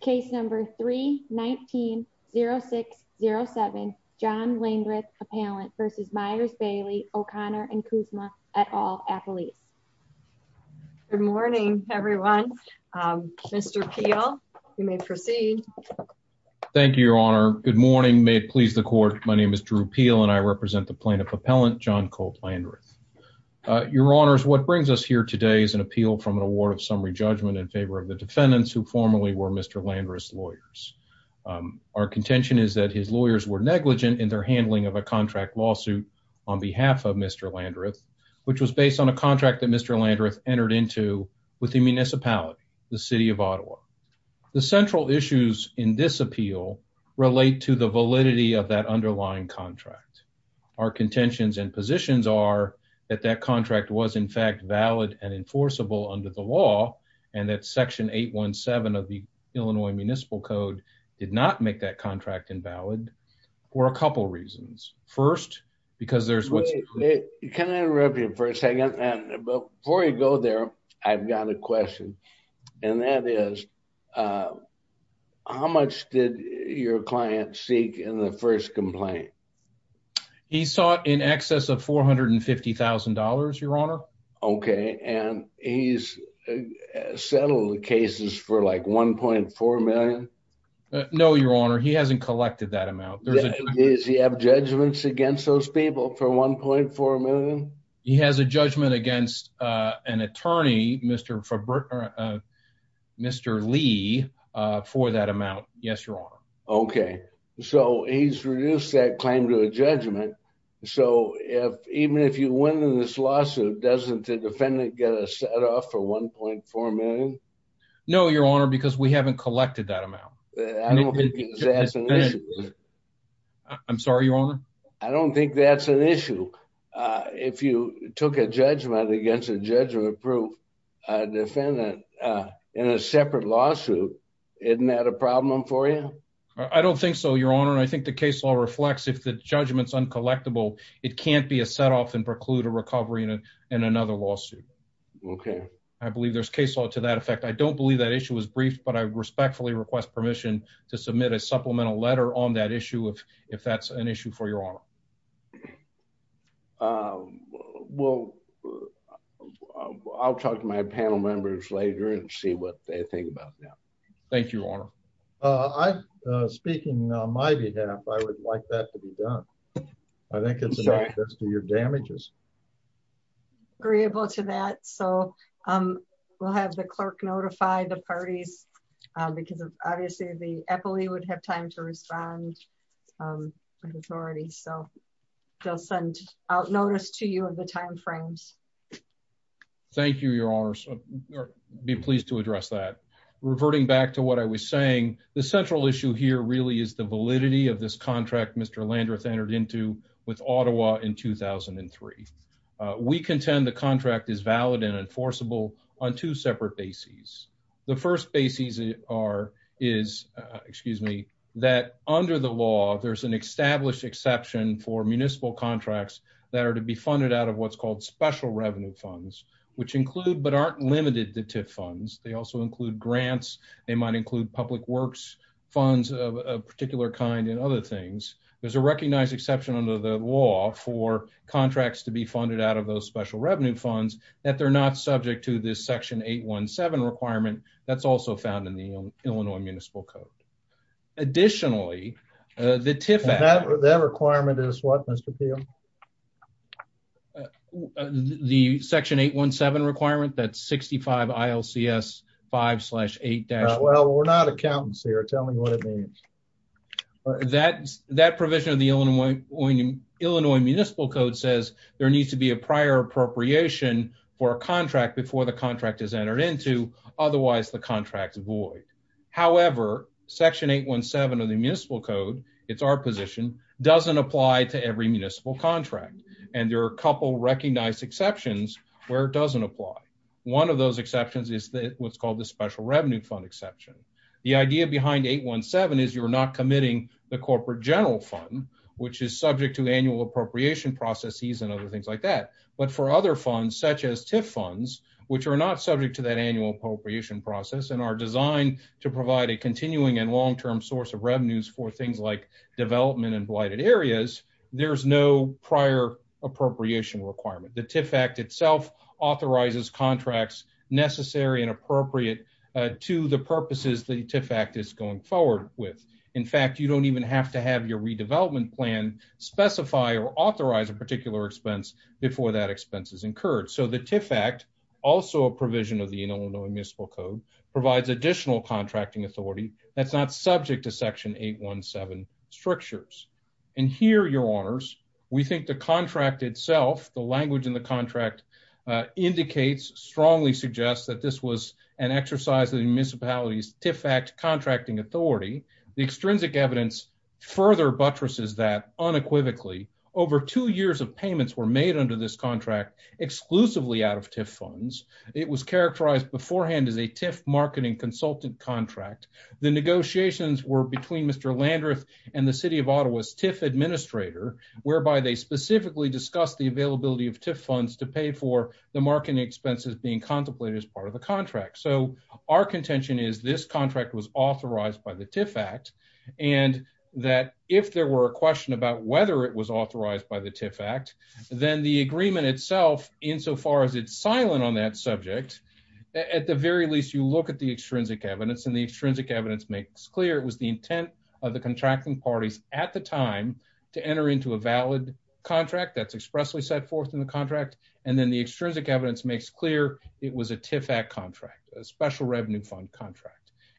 Case number 319-0607, John Landreth, Appellant v. Myers, Bailey, O'Connor & Kuzma, et al., Appellees. Good morning, everyone. Mr. Peel, you may proceed. Thank you, Your Honor. Good morning. May it please the Court, my name is Drew Peel and I represent the plaintiff appellant, John Colt Landreth. Your Honors, what brings us here today is an appeal from an award summary judgment in favor of the defendants who formerly were Mr. Landreth's lawyers. Our contention is that his lawyers were negligent in their handling of a contract lawsuit on behalf of Mr. Landreth, which was based on a contract that Mr. Landreth entered into with the municipality, the City of Ottawa. The central issues in this appeal relate to the validity of that underlying contract. Our contentions and positions are that that contract was in fact valid and enforceable under the law, and that Section 817 of the Illinois Municipal Code did not make that contract invalid for a couple reasons. First, because there's... Can I interrupt you for a second? Before you go there, I've got a question, and that is, how much did your client seek in the first complaint? He sought in excess of $450,000, Your Honor. Okay, and he's settled the cases for like $1.4 million? No, Your Honor, he hasn't collected that amount. Does he have judgments against those people for $1.4 million? He has a judgment against an attorney, Mr. Lee, for that amount, yes, Your Honor. Okay, so he's reduced that claim to a judgment, so even if you win in this lawsuit, doesn't the defendant get a set-off for $1.4 million? No, Your Honor, because we haven't collected that amount. I'm sorry, Your Honor? I don't think that's an issue. If you took a judgment against a judgment-proof defendant in a separate lawsuit, isn't that a problem for you? I don't think so, Your Honor. I think the case law reflects if the judgment's uncollectible, it can't be a set-off and preclude a recovery in another lawsuit. Okay. I believe there's case law to that effect. I don't believe that issue was briefed, but I respectfully request permission to submit a supplemental letter on that issue if that's an issue for Your Honor. Okay, well, I'll talk to my panel members later and see what they think about that. Thank you, Your Honor. Speaking on my behalf, I would like that to be done. I think it's about just to your damages. Agreeable to that, so we'll have the clerk notify the parties, because obviously the FLE would have time to respond to the authorities, so they'll send out notice to you of the timeframes. Thank you, Your Honor. I'd be pleased to address that. Reverting back to what I was saying, the central issue here really is the validity of this contract Mr. Landreth entered into with Ottawa in 2003. We contend the contract is valid and enforceable on two separate bases. The first basis is that under the law, there's an established exception for municipal contracts that are to be funded out of what's called special revenue funds, which include but aren't limited to TIF funds. They also include grants. They might include public works funds of a particular kind and other things. There's a recognized exception under the law for contracts to be funded out of those special funds that they're not subject to this Section 817 requirement that's also found in the Illinois Municipal Code. Additionally, the TIF Act... That requirement is what, Mr. Peel? The Section 817 requirement that 65 ILCS 5-8-... Well, we're not accountants here. Tell me what it means. Well, that provision of the Illinois Municipal Code says there needs to be a prior appropriation for a contract before the contract is entered into. Otherwise, the contract's void. However, Section 817 of the Municipal Code, it's our position, doesn't apply to every municipal contract. And there are a couple recognized exceptions where it doesn't apply. One of those exceptions is what's called the special revenue fund exception. The idea behind 817 is you're not committing the corporate general fund, which is subject to annual appropriation processes and other things like that. But for other funds, such as TIF funds, which are not subject to that annual appropriation process and are designed to provide a continuing and long-term source of revenues for things like development and blighted areas, there's no prior appropriation requirement. The TIF Act itself authorizes contracts necessary and appropriate to the In fact, you don't even have to have your redevelopment plan specify or authorize a particular expense before that expense is incurred. So the TIF Act, also a provision of the Illinois Municipal Code, provides additional contracting authority that's not subject to Section 817 structures. And here, your honors, we think the contract itself, the language in the contract indicates, strongly suggests that this was an exercise of the The extrinsic evidence further buttresses that, unequivocally, over two years of payments were made under this contract exclusively out of TIF funds. It was characterized beforehand as a TIF marketing consultant contract. The negotiations were between Mr. Landreth and the City of Ottawa's TIF administrator, whereby they specifically discussed the availability of TIF funds to pay for the marketing expenses being contemplated as part of the contract. So our contention is this was authorized by the TIF Act, and that if there were a question about whether it was authorized by the TIF Act, then the agreement itself, insofar as it's silent on that subject, at the very least, you look at the extrinsic evidence, and the extrinsic evidence makes clear it was the intent of the contracting parties at the time to enter into a valid contract that's expressly set forth in the contract, and then the extrinsic evidence makes clear it was a TIF Act contract, a special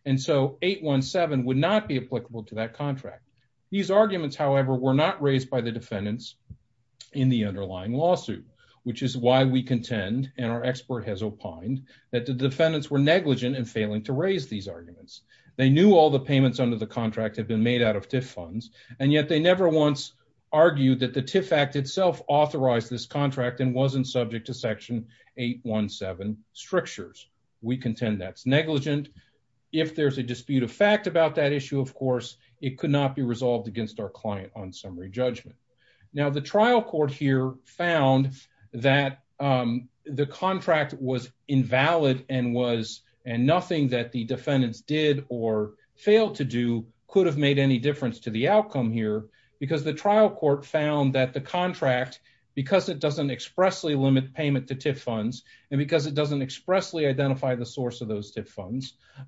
and so 817 would not be applicable to that contract. These arguments, however, were not raised by the defendants in the underlying lawsuit, which is why we contend, and our expert has opined, that the defendants were negligent in failing to raise these arguments. They knew all the payments under the contract had been made out of TIF funds, and yet they never once argued that the TIF Act itself authorized this contract and wasn't subject to section 817 strictures. We contend that's a dispute of fact about that issue, of course. It could not be resolved against our client on summary judgment. Now, the trial court here found that the contract was invalid, and nothing that the defendants did or failed to do could have made any difference to the outcome here, because the trial court found that the contract, because it doesn't expressly limit payment to TIF funds,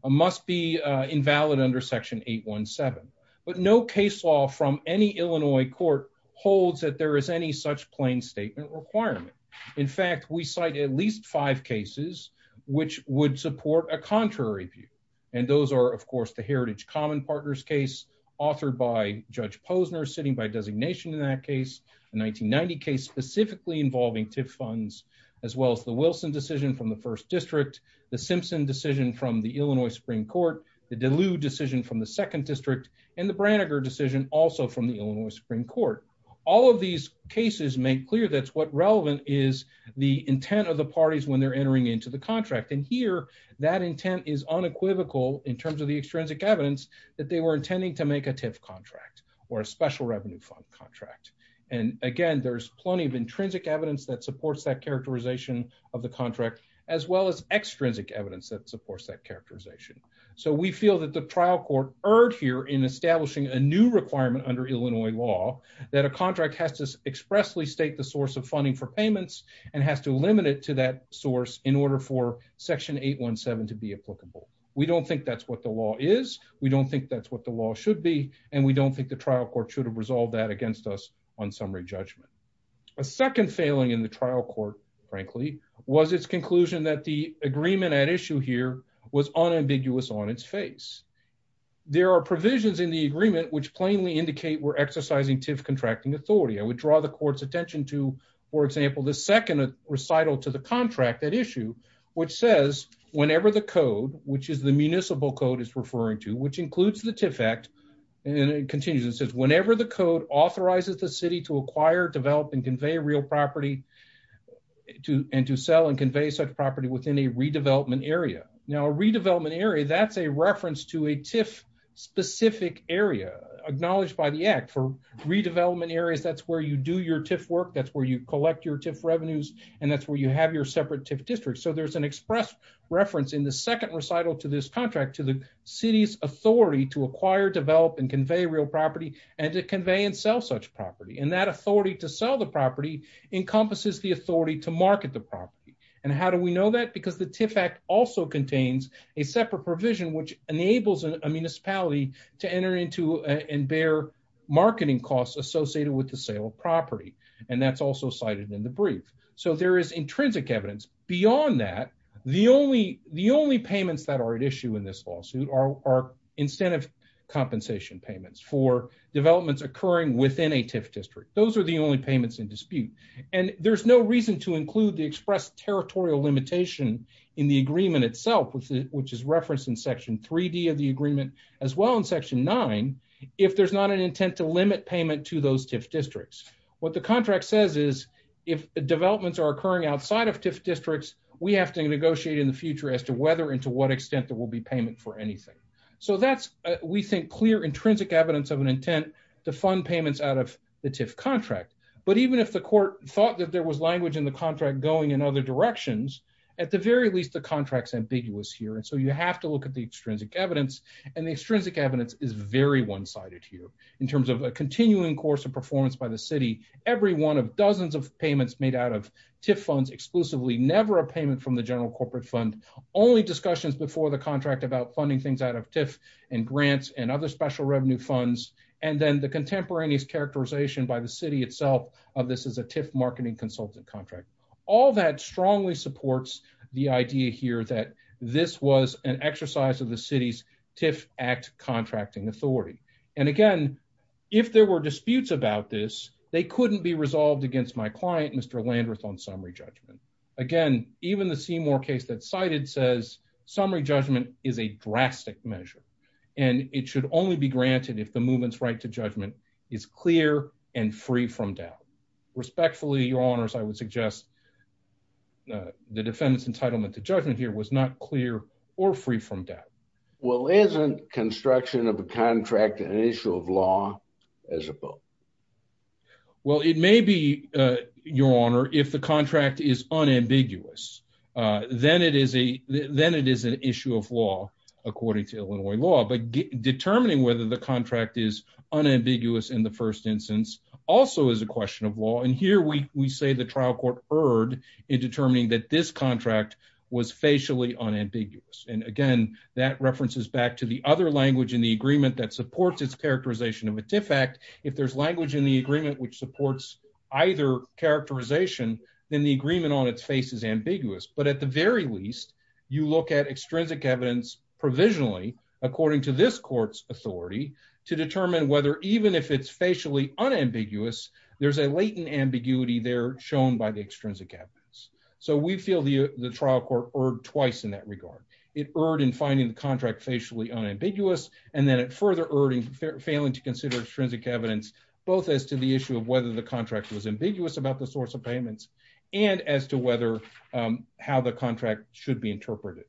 must be invalid under section 817, but no case law from any Illinois court holds that there is any such plain statement requirement. In fact, we cite at least five cases which would support a contrary view, and those are, of course, the Heritage Common Partners case, authored by Judge Posner, sitting by designation in that case, a 1990 case specifically involving TIF funds, as well as the Wilson decision from the First District, the Simpson decision from the Illinois Supreme Court, the Deleu decision from the Second District, and the Branniger decision also from the Illinois Supreme Court. All of these cases make clear that's what relevant is the intent of the parties when they're entering into the contract, and here that intent is unequivocal in terms of the extrinsic evidence that they were intending to make a TIF contract or a special revenue fund contract. And again, there's plenty of intrinsic evidence that supports that characterization of the contract, as well as extrinsic evidence that supports that characterization. So we feel that the trial court erred here in establishing a new requirement under Illinois law that a contract has to expressly state the source of funding for payments and has to limit it to that source in order for section 817 to be applicable. We don't think that's what the law is, we don't think that's what the law should be, and we don't think the trial court should have resolved that against us on summary judgment. A second failing in the trial court, frankly, was its conclusion that the agreement at issue here was unambiguous on its face. There are provisions in the agreement which plainly indicate we're exercising TIF contracting authority. I would draw the court's attention to, for example, the second recital to the contract at issue, which says, whenever the code, which is the municipal code it's referring to, which includes the TIF Act, and it continues, it says, whenever the code authorizes the city to acquire, develop, and convey real property and to sell and convey such property within a redevelopment area. Now, a redevelopment area, that's a reference to a TIF-specific area acknowledged by the Act. For redevelopment areas, that's where you do your TIF work, that's where you collect your TIF revenues, and that's where you have your separate TIF districts. So there's an express reference in the second recital to this contract to the city's authority to acquire, develop, and convey real property and to convey and sell such property, and that authority to sell the property encompasses the authority to market the property. And how do we know that? Because the TIF Act also contains a separate provision which enables a municipality to enter into and bear marketing costs associated with the sale of property, and that's also cited in the brief. There is intrinsic evidence. Beyond that, the only payments that are at issue in this lawsuit are incentive compensation payments for developments occurring within a TIF district. Those are the only payments in dispute, and there's no reason to include the express territorial limitation in the agreement itself, which is referenced in Section 3D of the agreement, as well in Section 9, if there's not an intent to limit payment to those TIF districts. What the contract says is if developments are occurring outside of TIF districts, we have to negotiate in the future as to whether and to what extent there will be payment for anything. So that's, we think, clear intrinsic evidence of an intent to fund payments out of the TIF contract. But even if the court thought that there was language in the contract going in other directions, at the very least, the contract's ambiguous here, and so you have to look at the extrinsic evidence, and the extrinsic evidence is very one-sided here in terms of a continuing course of performance by the city. Every one of dozens of payments made out of TIF funds, exclusively, never a payment from the general corporate fund, only discussions before the contract about funding things out of TIF and grants and other special revenue funds, and then the contemporaneous characterization by the city itself of this as a TIF marketing consultant contract. All that strongly supports the idea here that this was an exercise of the city's TIF Act contracting authority. And again, if there were disputes about this, they couldn't be resolved against my client, Mr. Landreth, on summary judgment. Again, even the Seymour case that's cited says summary judgment is a drastic measure, and it should only be granted if the movement's right to judgment is clear and free from doubt. Respectfully, your honors, I would suggest the defendant's entitlement to judgment here was not clear or free from doubt. Well, isn't construction of a contract an issue of law as opposed? Well, it may be, your honor, if the contract is unambiguous, then it is an issue of law according to Illinois law. But determining whether the contract is unambiguous in the first instance also is a question of law. And here we say the trial court erred in determining that this contract was facially unambiguous. And again, that references back to the other language in the agreement that supports its characterization of a TIF Act. If there's language in the agreement which supports either characterization, then the agreement on its face is ambiguous. But at the very least, you look at extrinsic evidence provisionally according to this court's authority to determine whether even if it's facially unambiguous, there's a latent ambiguity there shown by the extrinsic evidence. So we feel the the trial court erred twice in that regard. It erred in finding the contract facially unambiguous, and then it further erred in failing to consider extrinsic evidence, both as to the issue of whether the contract was ambiguous about the source of payments, and as to whether how the contract should be interpreted.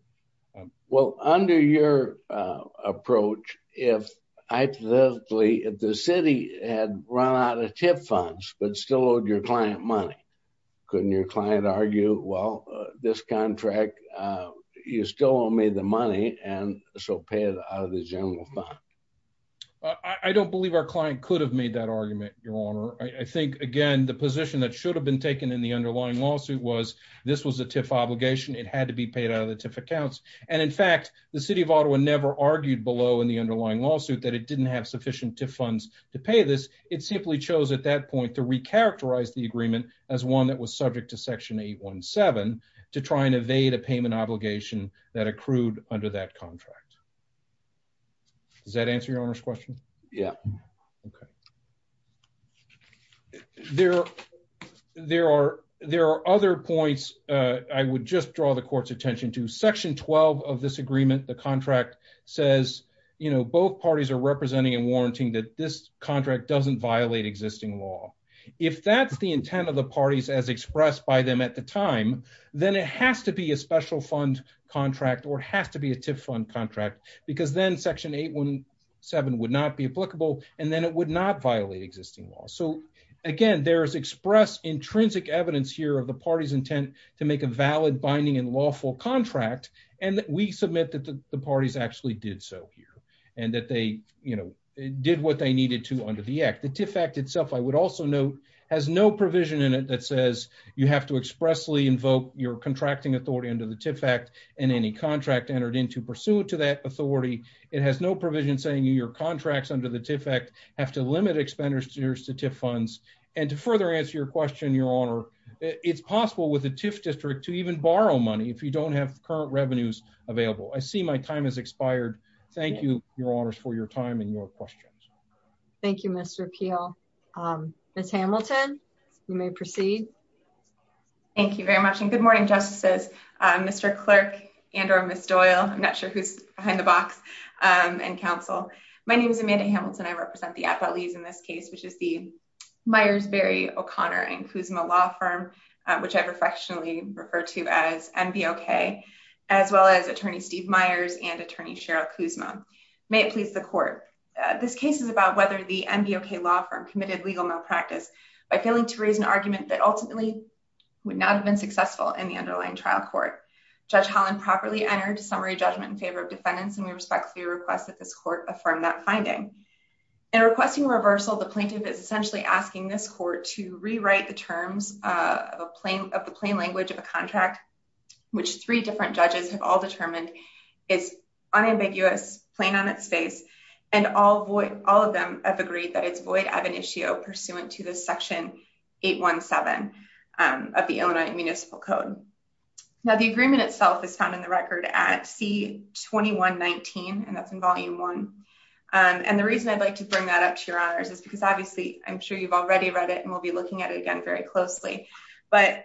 Well, under your approach, if the city had run out of TIF funds but still owed your client money, couldn't your client argue, well, this contract, you still owe me the money, and so pay it out of the general fund? I don't believe our client could have made that argument, Your Honor. I think, again, the position that should have been taken in the underlying lawsuit was this was a TIF obligation. It had to be paid out of the TIF accounts. And in fact, the City of Ottawa never argued below in the underlying lawsuit that it didn't have sufficient TIF funds to pay this. It simply chose at that point to recharacterize the agreement as one that was subject to Section 817 to try and evade a payment obligation that accrued under that contract. Does that answer Your Honor's question? Yeah. Okay. There are other points I would just draw the court's attention to. Section 12 of this agreement, the contract, says, you know, both parties are representing and warranting that this existing law. If that's the intent of the parties as expressed by them at the time, then it has to be a special fund contract or has to be a TIF fund contract, because then Section 817 would not be applicable, and then it would not violate existing law. So, again, there is expressed intrinsic evidence here of the party's intent to make a valid, binding, and lawful contract, and we submit that the parties actually did so here, and that they, you know, did what they needed to under the Act. The TIF Act itself, I would also note, has no provision in it that says you have to expressly invoke your contracting authority under the TIF Act and any contract entered into pursuant to that authority. It has no provision saying your contracts under the TIF Act have to limit expenditures to TIF funds. And to further answer your question, Your Honor, it's possible with a TIF district to even borrow money if you don't have current revenues available. I see my time has expired. Thank you, Your Honors, for your time and your questions. Thank you, Mr. Peel. Ms. Hamilton, you may proceed. Thank you very much, and good morning, Justices, Mr. Clerk and or Ms. Doyle. I'm not sure who's behind the box and counsel. My name is Amanda Hamilton. I represent the Appellees in this case, which is the Myers-Berry, O'Connor, and Kuzma law firm, which I've affectionately referred to as NBOK, as well as Attorney Steve Myers and Attorney Cheryl Kuzma. May it please the Court, this case is about whether the NBOK law firm committed legal malpractice by failing to raise an argument that ultimately would not have been successful in the underlying trial court. Judge Holland properly entered a summary judgment in favor of defendants, and we respectfully request that this Court affirm that finding. In requesting reversal, the plaintiff is essentially asking this Court to rewrite the terms of the plain language of a contract, which three different judges have all determined is unambiguous, plain on its face, and all of them have agreed that it's void of an issue pursuant to this Section 817 of the Illinois Municipal Code. Now, the agreement itself is found in the record at C-2119, and that's in Volume 1, and the reason I'd like to bring that up to your honors is because, obviously, I'm sure you've already read it and will be looking at it again very closely, but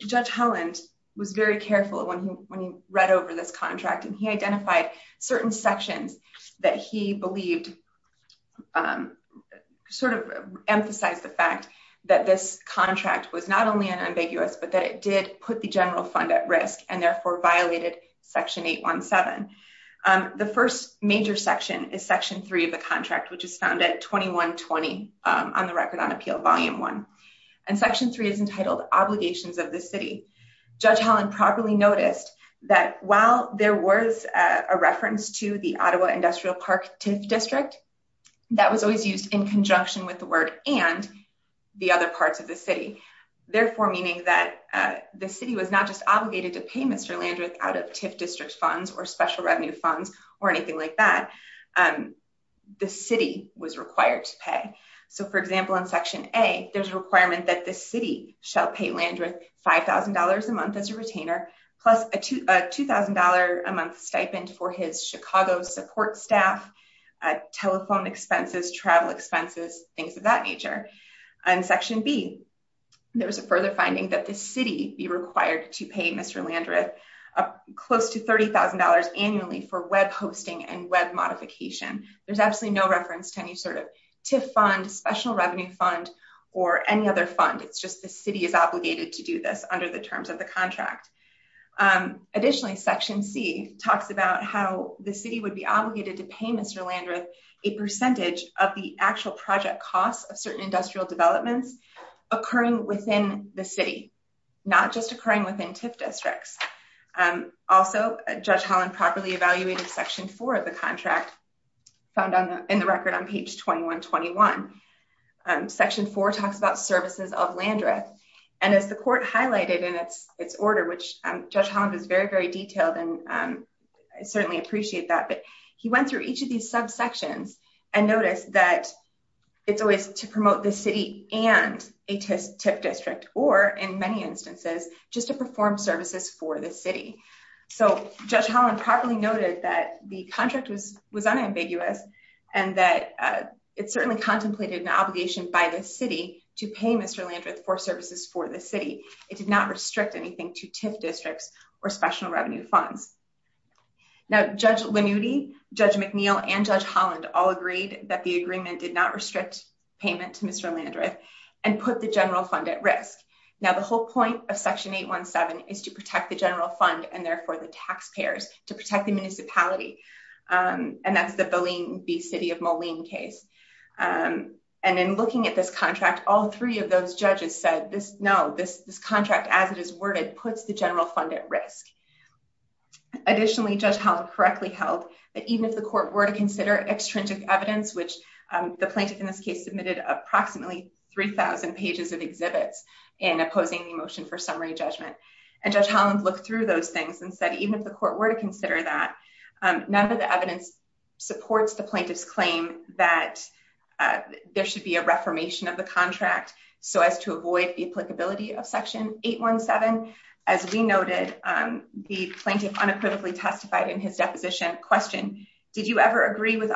Judge Holland was very careful when he read over this contract, and he identified certain sections that he believed sort of emphasized the fact that this contract was not only unambiguous, but that it did put the general fund at risk and therefore violated Section 817. The first major section is Section 3 of the contract, which is found at C-2120 on the Record on Appeal, Volume 1, and Section 3 is entitled Obligations of the City. Judge Holland properly noticed that while there was a reference to the Ottawa Industrial Park TIF district, that was always used in conjunction with the word and the other parts of the city, therefore meaning that the city was not just obligated to pay Mr. Landreth out of TIF district funds or special For example, in Section A, there's a requirement that the city shall pay Landreth $5,000 a month as a retainer plus a $2,000 a month stipend for his Chicago support staff, telephone expenses, travel expenses, things of that nature. In Section B, there was a further finding that the city be required to pay Mr. Landreth close to $30,000 annually for web hosting and web modification. There's absolutely no reference to any sort of TIF fund, special revenue fund, or any other fund. It's just the city is obligated to do this under the terms of the contract. Additionally, Section C talks about how the city would be obligated to pay Mr. Landreth a percentage of the actual project costs of certain industrial developments occurring within the city, not just occurring within TIF districts. Also, Judge Holland properly evaluated Section 4 of the contract found in the record on page 2121. Section 4 talks about services of Landreth, and as the court highlighted in its order, which Judge Holland is very, very detailed and I certainly appreciate that, but he went through each of these subsections and noticed that it's always to promote the city and a TIF district, or in many instances, just to perform services for the city. So, Judge Holland properly noted that the contract was unambiguous and that it certainly contemplated an obligation by the city to pay Mr. Landreth for services for the city. It did not restrict anything to TIF districts or special revenue funds. Now, Judge Lanuti, Judge McNeil, and Judge Holland all agreed that the agreement did not restrict payment to Mr. Landreth and put the general fund at risk. Now, the whole point of Section 817 is to protect the general fund and therefore the taxpayers, to protect the municipality, and that's the Boleyn v. City of Moline case. And in looking at this contract, all three of those judges said, no, this contract as it is worded puts the general fund at risk. Additionally, Judge Holland correctly held that even if the court were to the plaintiff in this case submitted approximately 3,000 pages of exhibits in opposing the motion for summary judgment. And Judge Holland looked through those things and said, even if the court were to consider that, none of the evidence supports the plaintiff's claim that there should be a reformation of the contract so as to avoid the applicability of Section 817. As we noted, the plaintiff unequivocally testified in his deposition question, did you ever agree with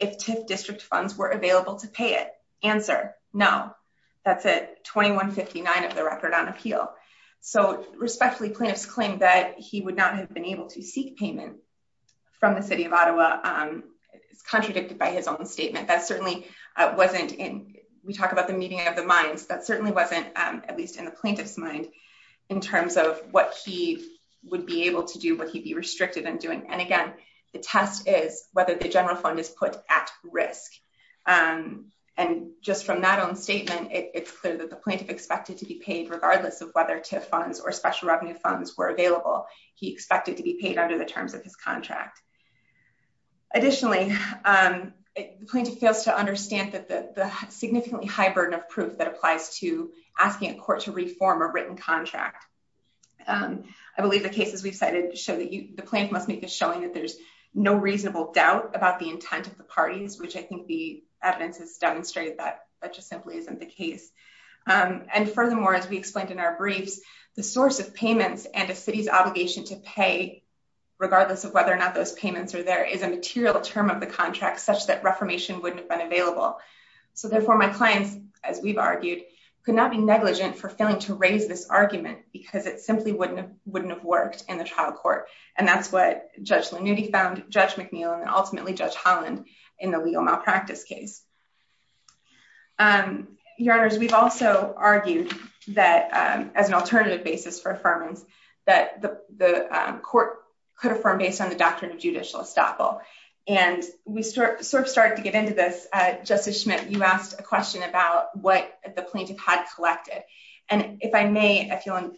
if TIF district funds were available to pay it? Answer, no. That's it, 2159 of the record on appeal. So respectfully, plaintiff's claim that he would not have been able to seek payment from the City of Ottawa is contradicted by his own statement. That certainly wasn't in, we talk about the meeting of the minds, that certainly wasn't at least in the plaintiff's mind in terms of what he would be able to do, what he'd be restricted in doing. And again, the test is whether the general fund is put at risk. And just from that own statement, it's clear that the plaintiff expected to be paid regardless of whether TIF funds or special revenue funds were available. He expected to be paid under the terms of his contract. Additionally, the plaintiff fails to understand that the significantly high burden of proof that applies to asking a court to reform a written contract. I believe the cases we've cited show the plaintiff must make a showing that there's no reasonable doubt about the intent of the parties, which I think the evidence has demonstrated that that just simply isn't the case. And furthermore, as we explained in our briefs, the source of payments and a city's obligation to pay regardless of whether or not those payments are there is a material term of the contract such that reformation wouldn't have been available. So therefore my clients, as we've argued, could not be negligent for failing to raise this argument because it simply wouldn't have worked in the trial court. And that's what Judge Lanuti found, Judge McNeill, and ultimately Judge Holland in the legal malpractice case. Your Honors, we've also argued that as an alternative basis for affirmance, that the court could affirm based on the doctrine of judicial estoppel. And we sort of started to get into this. Justice Schmidt, you asked a question about what the plaintiff had collected. And if I may, if you'll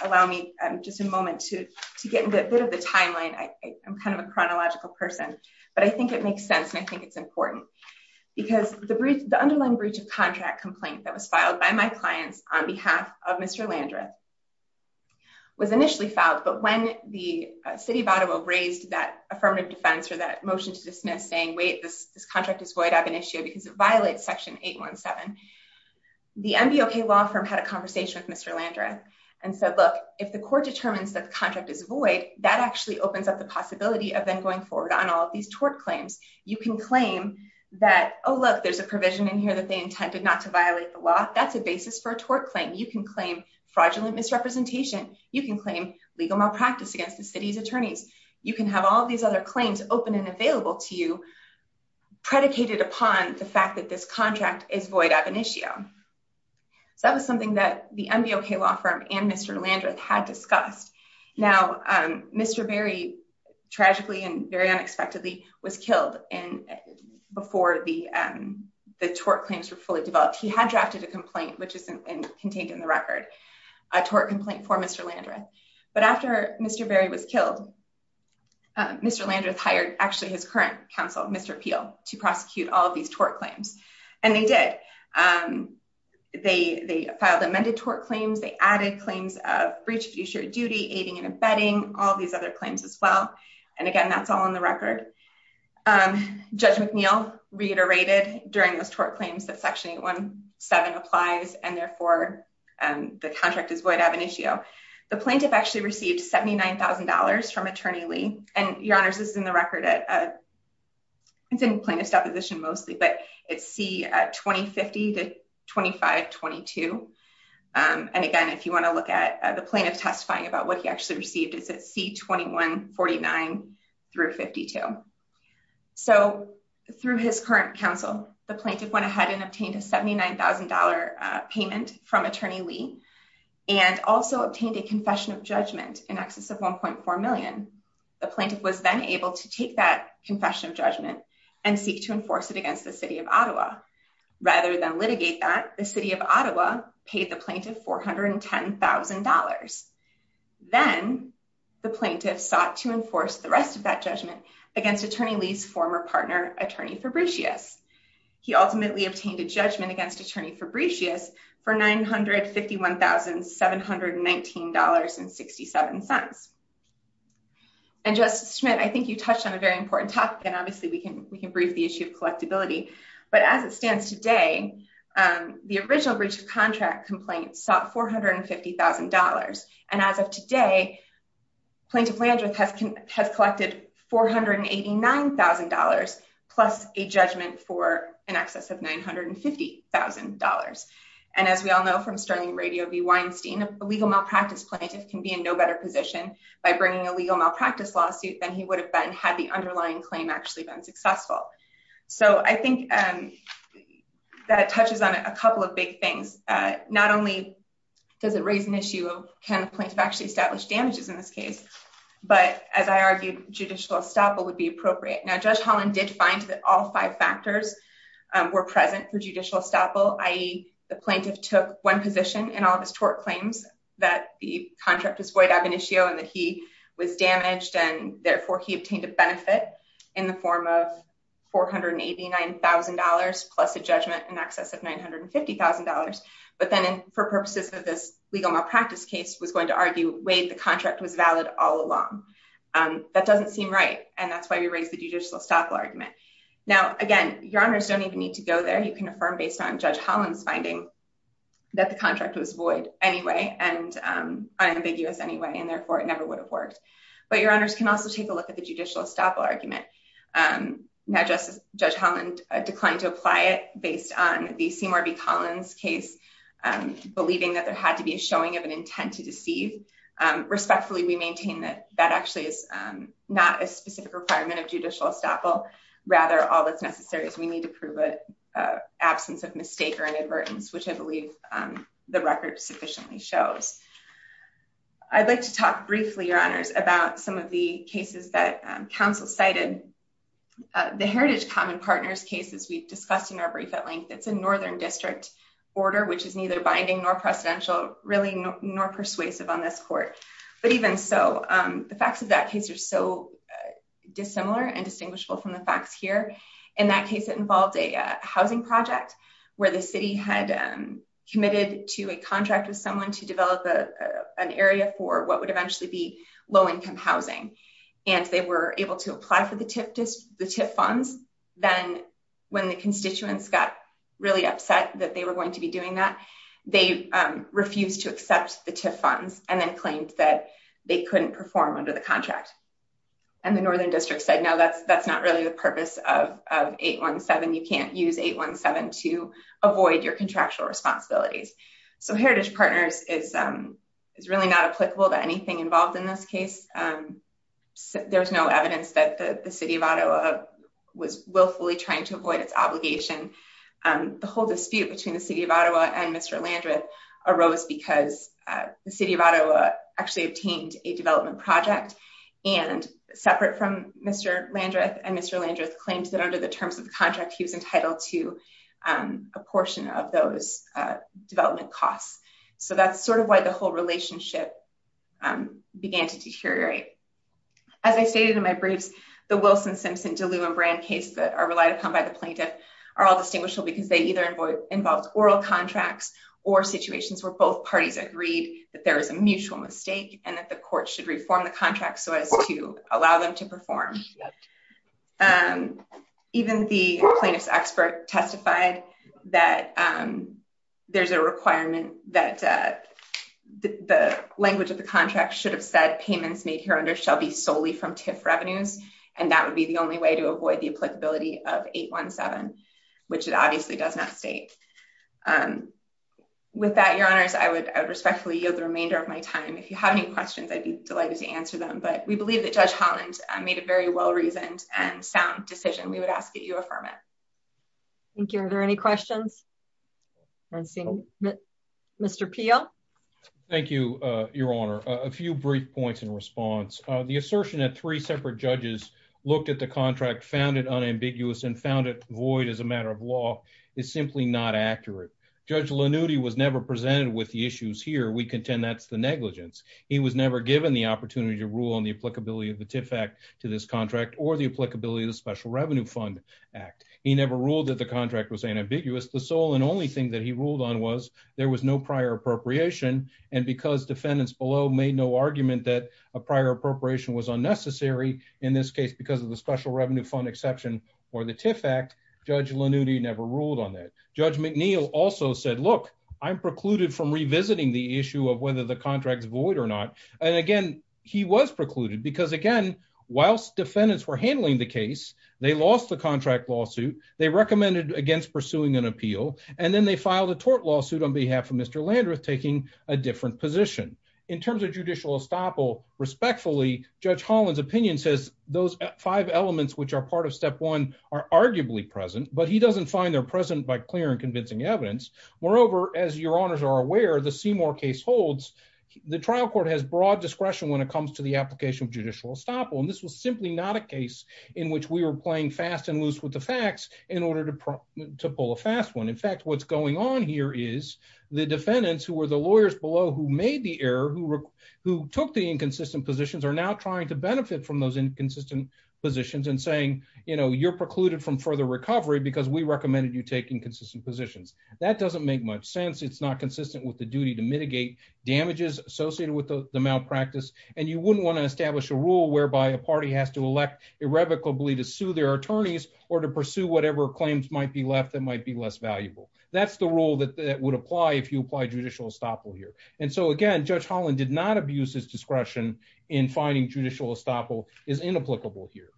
allow me just a moment to get into a bit of the timeline, I am kind of a chronological person, but I think it makes sense. And I think it's important because the brief, the underlying breach of contract complaint that was filed by my clients on behalf of Mr. Landreth was initially filed. But when the city of Ottawa raised that affirmative defense or that motion to dismiss saying, wait, this contract is void of an issue because it had a conversation with Mr. Landreth and said, look, if the court determines that the contract is void, that actually opens up the possibility of then going forward on all of these tort claims. You can claim that, oh, look, there's a provision in here that they intended not to violate the law. That's a basis for a tort claim. You can claim fraudulent misrepresentation. You can claim legal malpractice against the city's attorneys. You can have all these other claims open and available to you predicated upon the fact that this contract is void of an issue. So that was something that the NBOK law firm and Mr. Landreth had discussed. Now, Mr. Berry, tragically and very unexpectedly, was killed before the tort claims were fully developed. He had drafted a complaint, which is contained in the record, a tort complaint for Mr. Landreth. But after Mr. Berry was killed, Mr. Landreth hired actually his current counsel, Mr. Peel, to prosecute all of these tort claims. And they did. They filed amended tort claims. They added claims of breach of duty, aiding and abetting, all these other claims as well. And again, that's all on the record. Judge McNeill reiterated during those tort claims that Section 817 applies and therefore the contract is void of an issue. The plaintiff actually received $79,000 from it's in plaintiff's deposition mostly, but it's C-2050-2522. And again, if you want to look at the plaintiff testifying about what he actually received, it's at C-2149-52. So through his current counsel, the plaintiff went ahead and obtained a $79,000 payment from Attorney Lee and also obtained a confession of judgment in excess of $1.4 million. The plaintiff was then to take that confession of judgment and seek to enforce it against the City of Ottawa. Rather than litigate that, the City of Ottawa paid the plaintiff $410,000. Then the plaintiff sought to enforce the rest of that judgment against Attorney Lee's former partner, Attorney Fabricius. He ultimately obtained a judgment against Attorney Fabricius for $951,719.67. And Justice Schmidt, I think you touched on a very important topic and obviously we can we can brief the issue of collectability, but as it stands today, the original breach of contract complaint sought $450,000. And as of today, Plaintiff Landreth has collected $489,000 plus a judgment for in excess of $950,000. And as we all know from Sterling Radio v. Weinstein, a legal malpractice plaintiff can be in no better position by bringing a legal malpractice lawsuit than he would have been had the underlying claim actually been successful. So I think that touches on a couple of big things. Not only does it raise an issue of can the plaintiff actually establish damages in this case, but as I argued, judicial estoppel would be appropriate. Now Judge Holland did find that all five factors were present for judicial estoppel, i.e. the that the contract was void ab initio and that he was damaged and therefore he obtained a benefit in the form of $489,000 plus a judgment in excess of $950,000. But then for purposes of this legal malpractice case was going to argue, wait, the contract was valid all along. That doesn't seem right. And that's why we raised the judicial estoppel argument. Now, again, your honors don't even need to go there. You can affirm based on Judge Holland's finding that the contract was anyway and unambiguous anyway, and therefore it never would have worked. But your honors can also take a look at the judicial estoppel argument. Now Judge Holland declined to apply it based on the Seymour v. Collins case, believing that there had to be a showing of an intent to deceive. Respectfully, we maintain that that actually is not a specific requirement of judicial estoppel. Rather, all that's necessary is we need to prove it absence of mistake or inadvertence, which I believe the record sufficiently shows. I'd like to talk briefly, your honors, about some of the cases that counsel cited. The Heritage Common Partners case, as we've discussed in our brief at length, it's a northern district order, which is neither binding nor precedential, really nor persuasive on this court. But even so, the facts of that case are so dissimilar and distinguishable from the facts here. In that case, it involved a housing project where the city had committed to a contract with someone to develop an area for what would eventually be low-income housing. And they were able to apply for the TIF funds. Then when the constituents got really upset that they were going to be doing that, they refused to accept the TIF funds and then claimed that they couldn't perform under the contract. And the northern district said, that's not really the purpose of 817. You can't use 817 to avoid your contractual responsibilities. So Heritage Partners is really not applicable to anything involved in this case. There's no evidence that the City of Ottawa was willfully trying to avoid its obligation. The whole dispute between the City of Ottawa and Mr. Landreth arose because the City of Ottawa actually obtained a development project. And separate from Mr. Landreth and Mr. Landreth claimed that under the terms of the contract, he was entitled to a portion of those development costs. So that's sort of why the whole relationship began to deteriorate. As I stated in my briefs, the Wilson, Simpson, Deleu and Brand case that are relied upon by the plaintiff are all distinguishable because they either involved oral contracts or situations where both parties agreed that there was a mutual mistake and that the court should reform the contract so as to allow them to perform. Even the plaintiff's expert testified that there's a requirement that the language of the contract should have said payments made here under shall be solely from TIF revenues. And that would be the only way to avoid the applicability of 817, which it obviously does not state. With that, Your Honors, I would respectfully yield the remainder of my time. If you have any questions, I'd be delighted to answer them. But we believe that Judge Holland made a very well-reasoned and sound decision. We would ask that you affirm it. Thank you. Are there any questions? Mr. Peel? Thank you, Your Honor. A few brief points in response. The assertion that three separate looked at the contract, found it unambiguous and found it void as a matter of law is simply not accurate. Judge Lanuti was never presented with the issues here. We contend that's the negligence. He was never given the opportunity to rule on the applicability of the TIF Act to this contract or the applicability of the Special Revenue Fund Act. He never ruled that the contract was unambiguous. The sole and only thing that he ruled on was there was no prior appropriation. And because defendants below made no argument that a prior appropriation was necessary in this case because of the Special Revenue Fund exception or the TIF Act, Judge Lanuti never ruled on that. Judge McNeil also said, look, I'm precluded from revisiting the issue of whether the contract's void or not. And again, he was precluded because, again, whilst defendants were handling the case, they lost the contract lawsuit. They recommended against pursuing an appeal. And then they filed a tort lawsuit on behalf of Mr. Landreth taking a says those five elements which are part of step one are arguably present, but he doesn't find they're present by clear and convincing evidence. Moreover, as your honors are aware, the Seymour case holds, the trial court has broad discretion when it comes to the application of judicial estoppel. And this was simply not a case in which we were playing fast and loose with the facts in order to pull a fast one. In fact, what's going on here is the defendants who were the lawyers below who made the error, who took the inconsistent positions, are now trying to benefit from those inconsistent positions and saying, you're precluded from further recovery because we recommended you take inconsistent positions. That doesn't make much sense. It's not consistent with the duty to mitigate damages associated with the malpractice. And you wouldn't want to establish a rule whereby a party has to elect irrevocably to sue their attorneys or to pursue whatever claims might be left that might be less valuable. That's the rule that would apply if you judicial estoppel here. And so again, Judge Holland did not abuse his discretion in finding judicial estoppel is inapplicable here.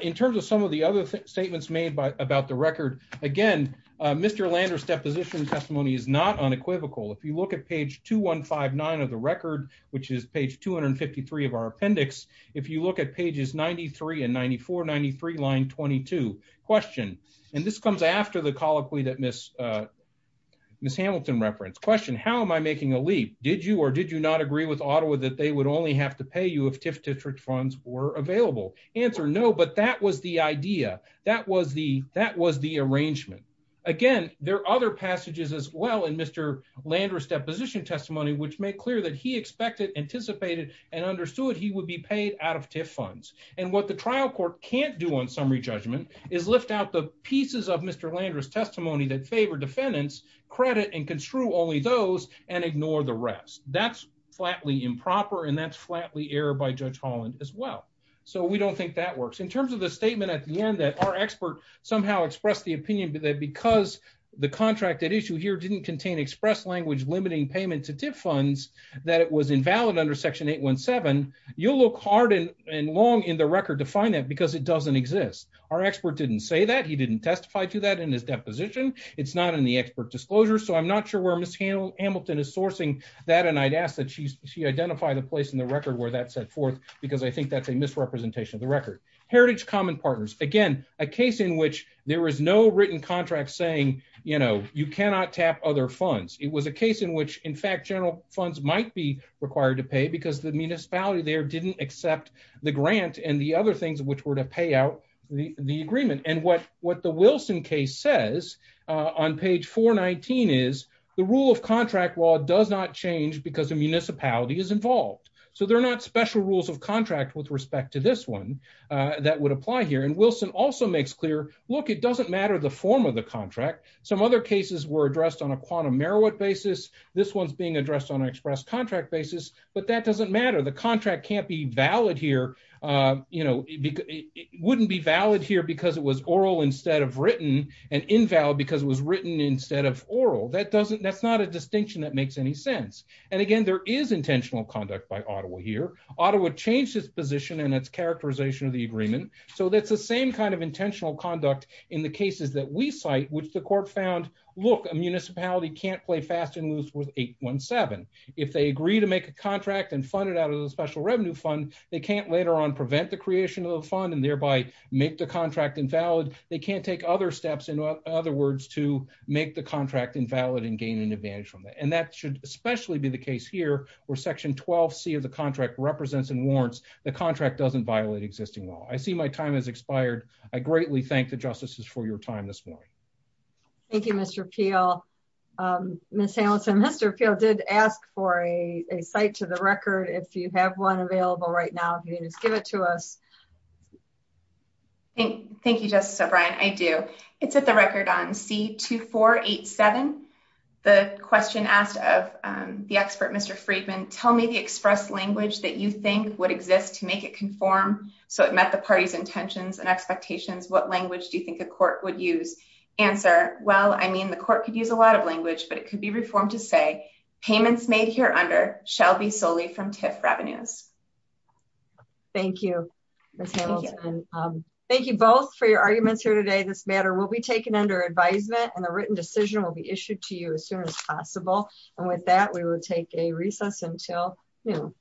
In terms of some of the other statements made about the record, again, Mr. Lander's deposition testimony is not unequivocal. If you look at page 2159 of the record, which is page 253 of our appendix, if you look at pages 93 and 94, 93 line 22, question, and this comes after the colloquy that Miss Hamilton referenced, question, how am I making a leap? Did you or did you not agree with Ottawa that they would only have to pay you if TIF district funds were available? Answer, no, but that was the idea. That was the arrangement. Again, there are other passages as well in Mr. Lander's deposition testimony, which made clear that he expected, anticipated, and understood he would be paid out of TIF funds. And what the trial court can't do on summary judgment is lift out the pieces of Mr. Lander's testimony that favor defendants credit and construe only those and ignore the rest. That's flatly improper and that's flatly error by Judge Holland as well. So we don't think that works. In terms of the statement at the end that our expert somehow expressed the opinion that because the contract that issue here didn't contain express language, limiting payment to TIF funds, that it was invalid under section 817, you'll look hard and long in the record to find that because it doesn't exist. Our expert didn't say that. He didn't testify to that in his deposition. It's not in the expert disclosure. So I'm not sure where Miss Hamilton is sourcing that. And I'd ask that she identify the place in the record where that set forth, because I think that's a misrepresentation of the record. Heritage Common Partners, again, a case in which there was no written contract saying, you know, you cannot tap other funds. It was a case in which, in fact, general funds might be required to pay because the municipality there didn't accept the grant and the other things which were to pay out the agreement. And what the Wilson case says on page 419 is the rule of contract law does not change because the municipality is involved. So there are not special rules of contract with respect to this one that would apply here. And Wilson also makes clear, look, it doesn't matter the form of the basis. This one's being addressed on an express contract basis. But that doesn't matter. The contract can't be valid here. You know, it wouldn't be valid here because it was oral instead of written and invalid because it was written instead of oral. That doesn't that's not a distinction that makes any sense. And again, there is intentional conduct by Ottawa here. Ottawa changed its position and its characterization of the agreement. So that's the same kind of intentional conduct in the cases that we cite, which the court found, look, a municipality can't play fast and loose with 817. If they agree to make a contract and fund it out of the special revenue fund, they can't later on prevent the creation of the fund and thereby make the contract invalid. They can't take other steps, in other words, to make the contract invalid and gain an advantage from it. And that should especially be the case here, where Section 12C of the contract represents and warrants the contract doesn't violate existing law. I see my time has expired. I greatly thank the justices for your time this morning. Thank you, Mr. Peel. Ms. Hamilton, Mr. Peel did ask for a site to the record, if you have one available right now, if you can just give it to us. Thank you, Justice O'Brien. I do. It's at the record on C-2487. The question asked of the expert, Mr. Friedman, tell me the express language that you think would exist to make it conform so it met the party's intentions and expectations. What language do you think a court would use? Answer, well, I mean, the court could use a lot of language, but it could be reformed to say payments made here under shall be solely from TIF revenues. Thank you, Ms. Hamilton. Thank you both for your arguments here today. This matter will be taken under advisement and a written decision will be issued to you as soon as possible. And with that, we will take a recess until noon.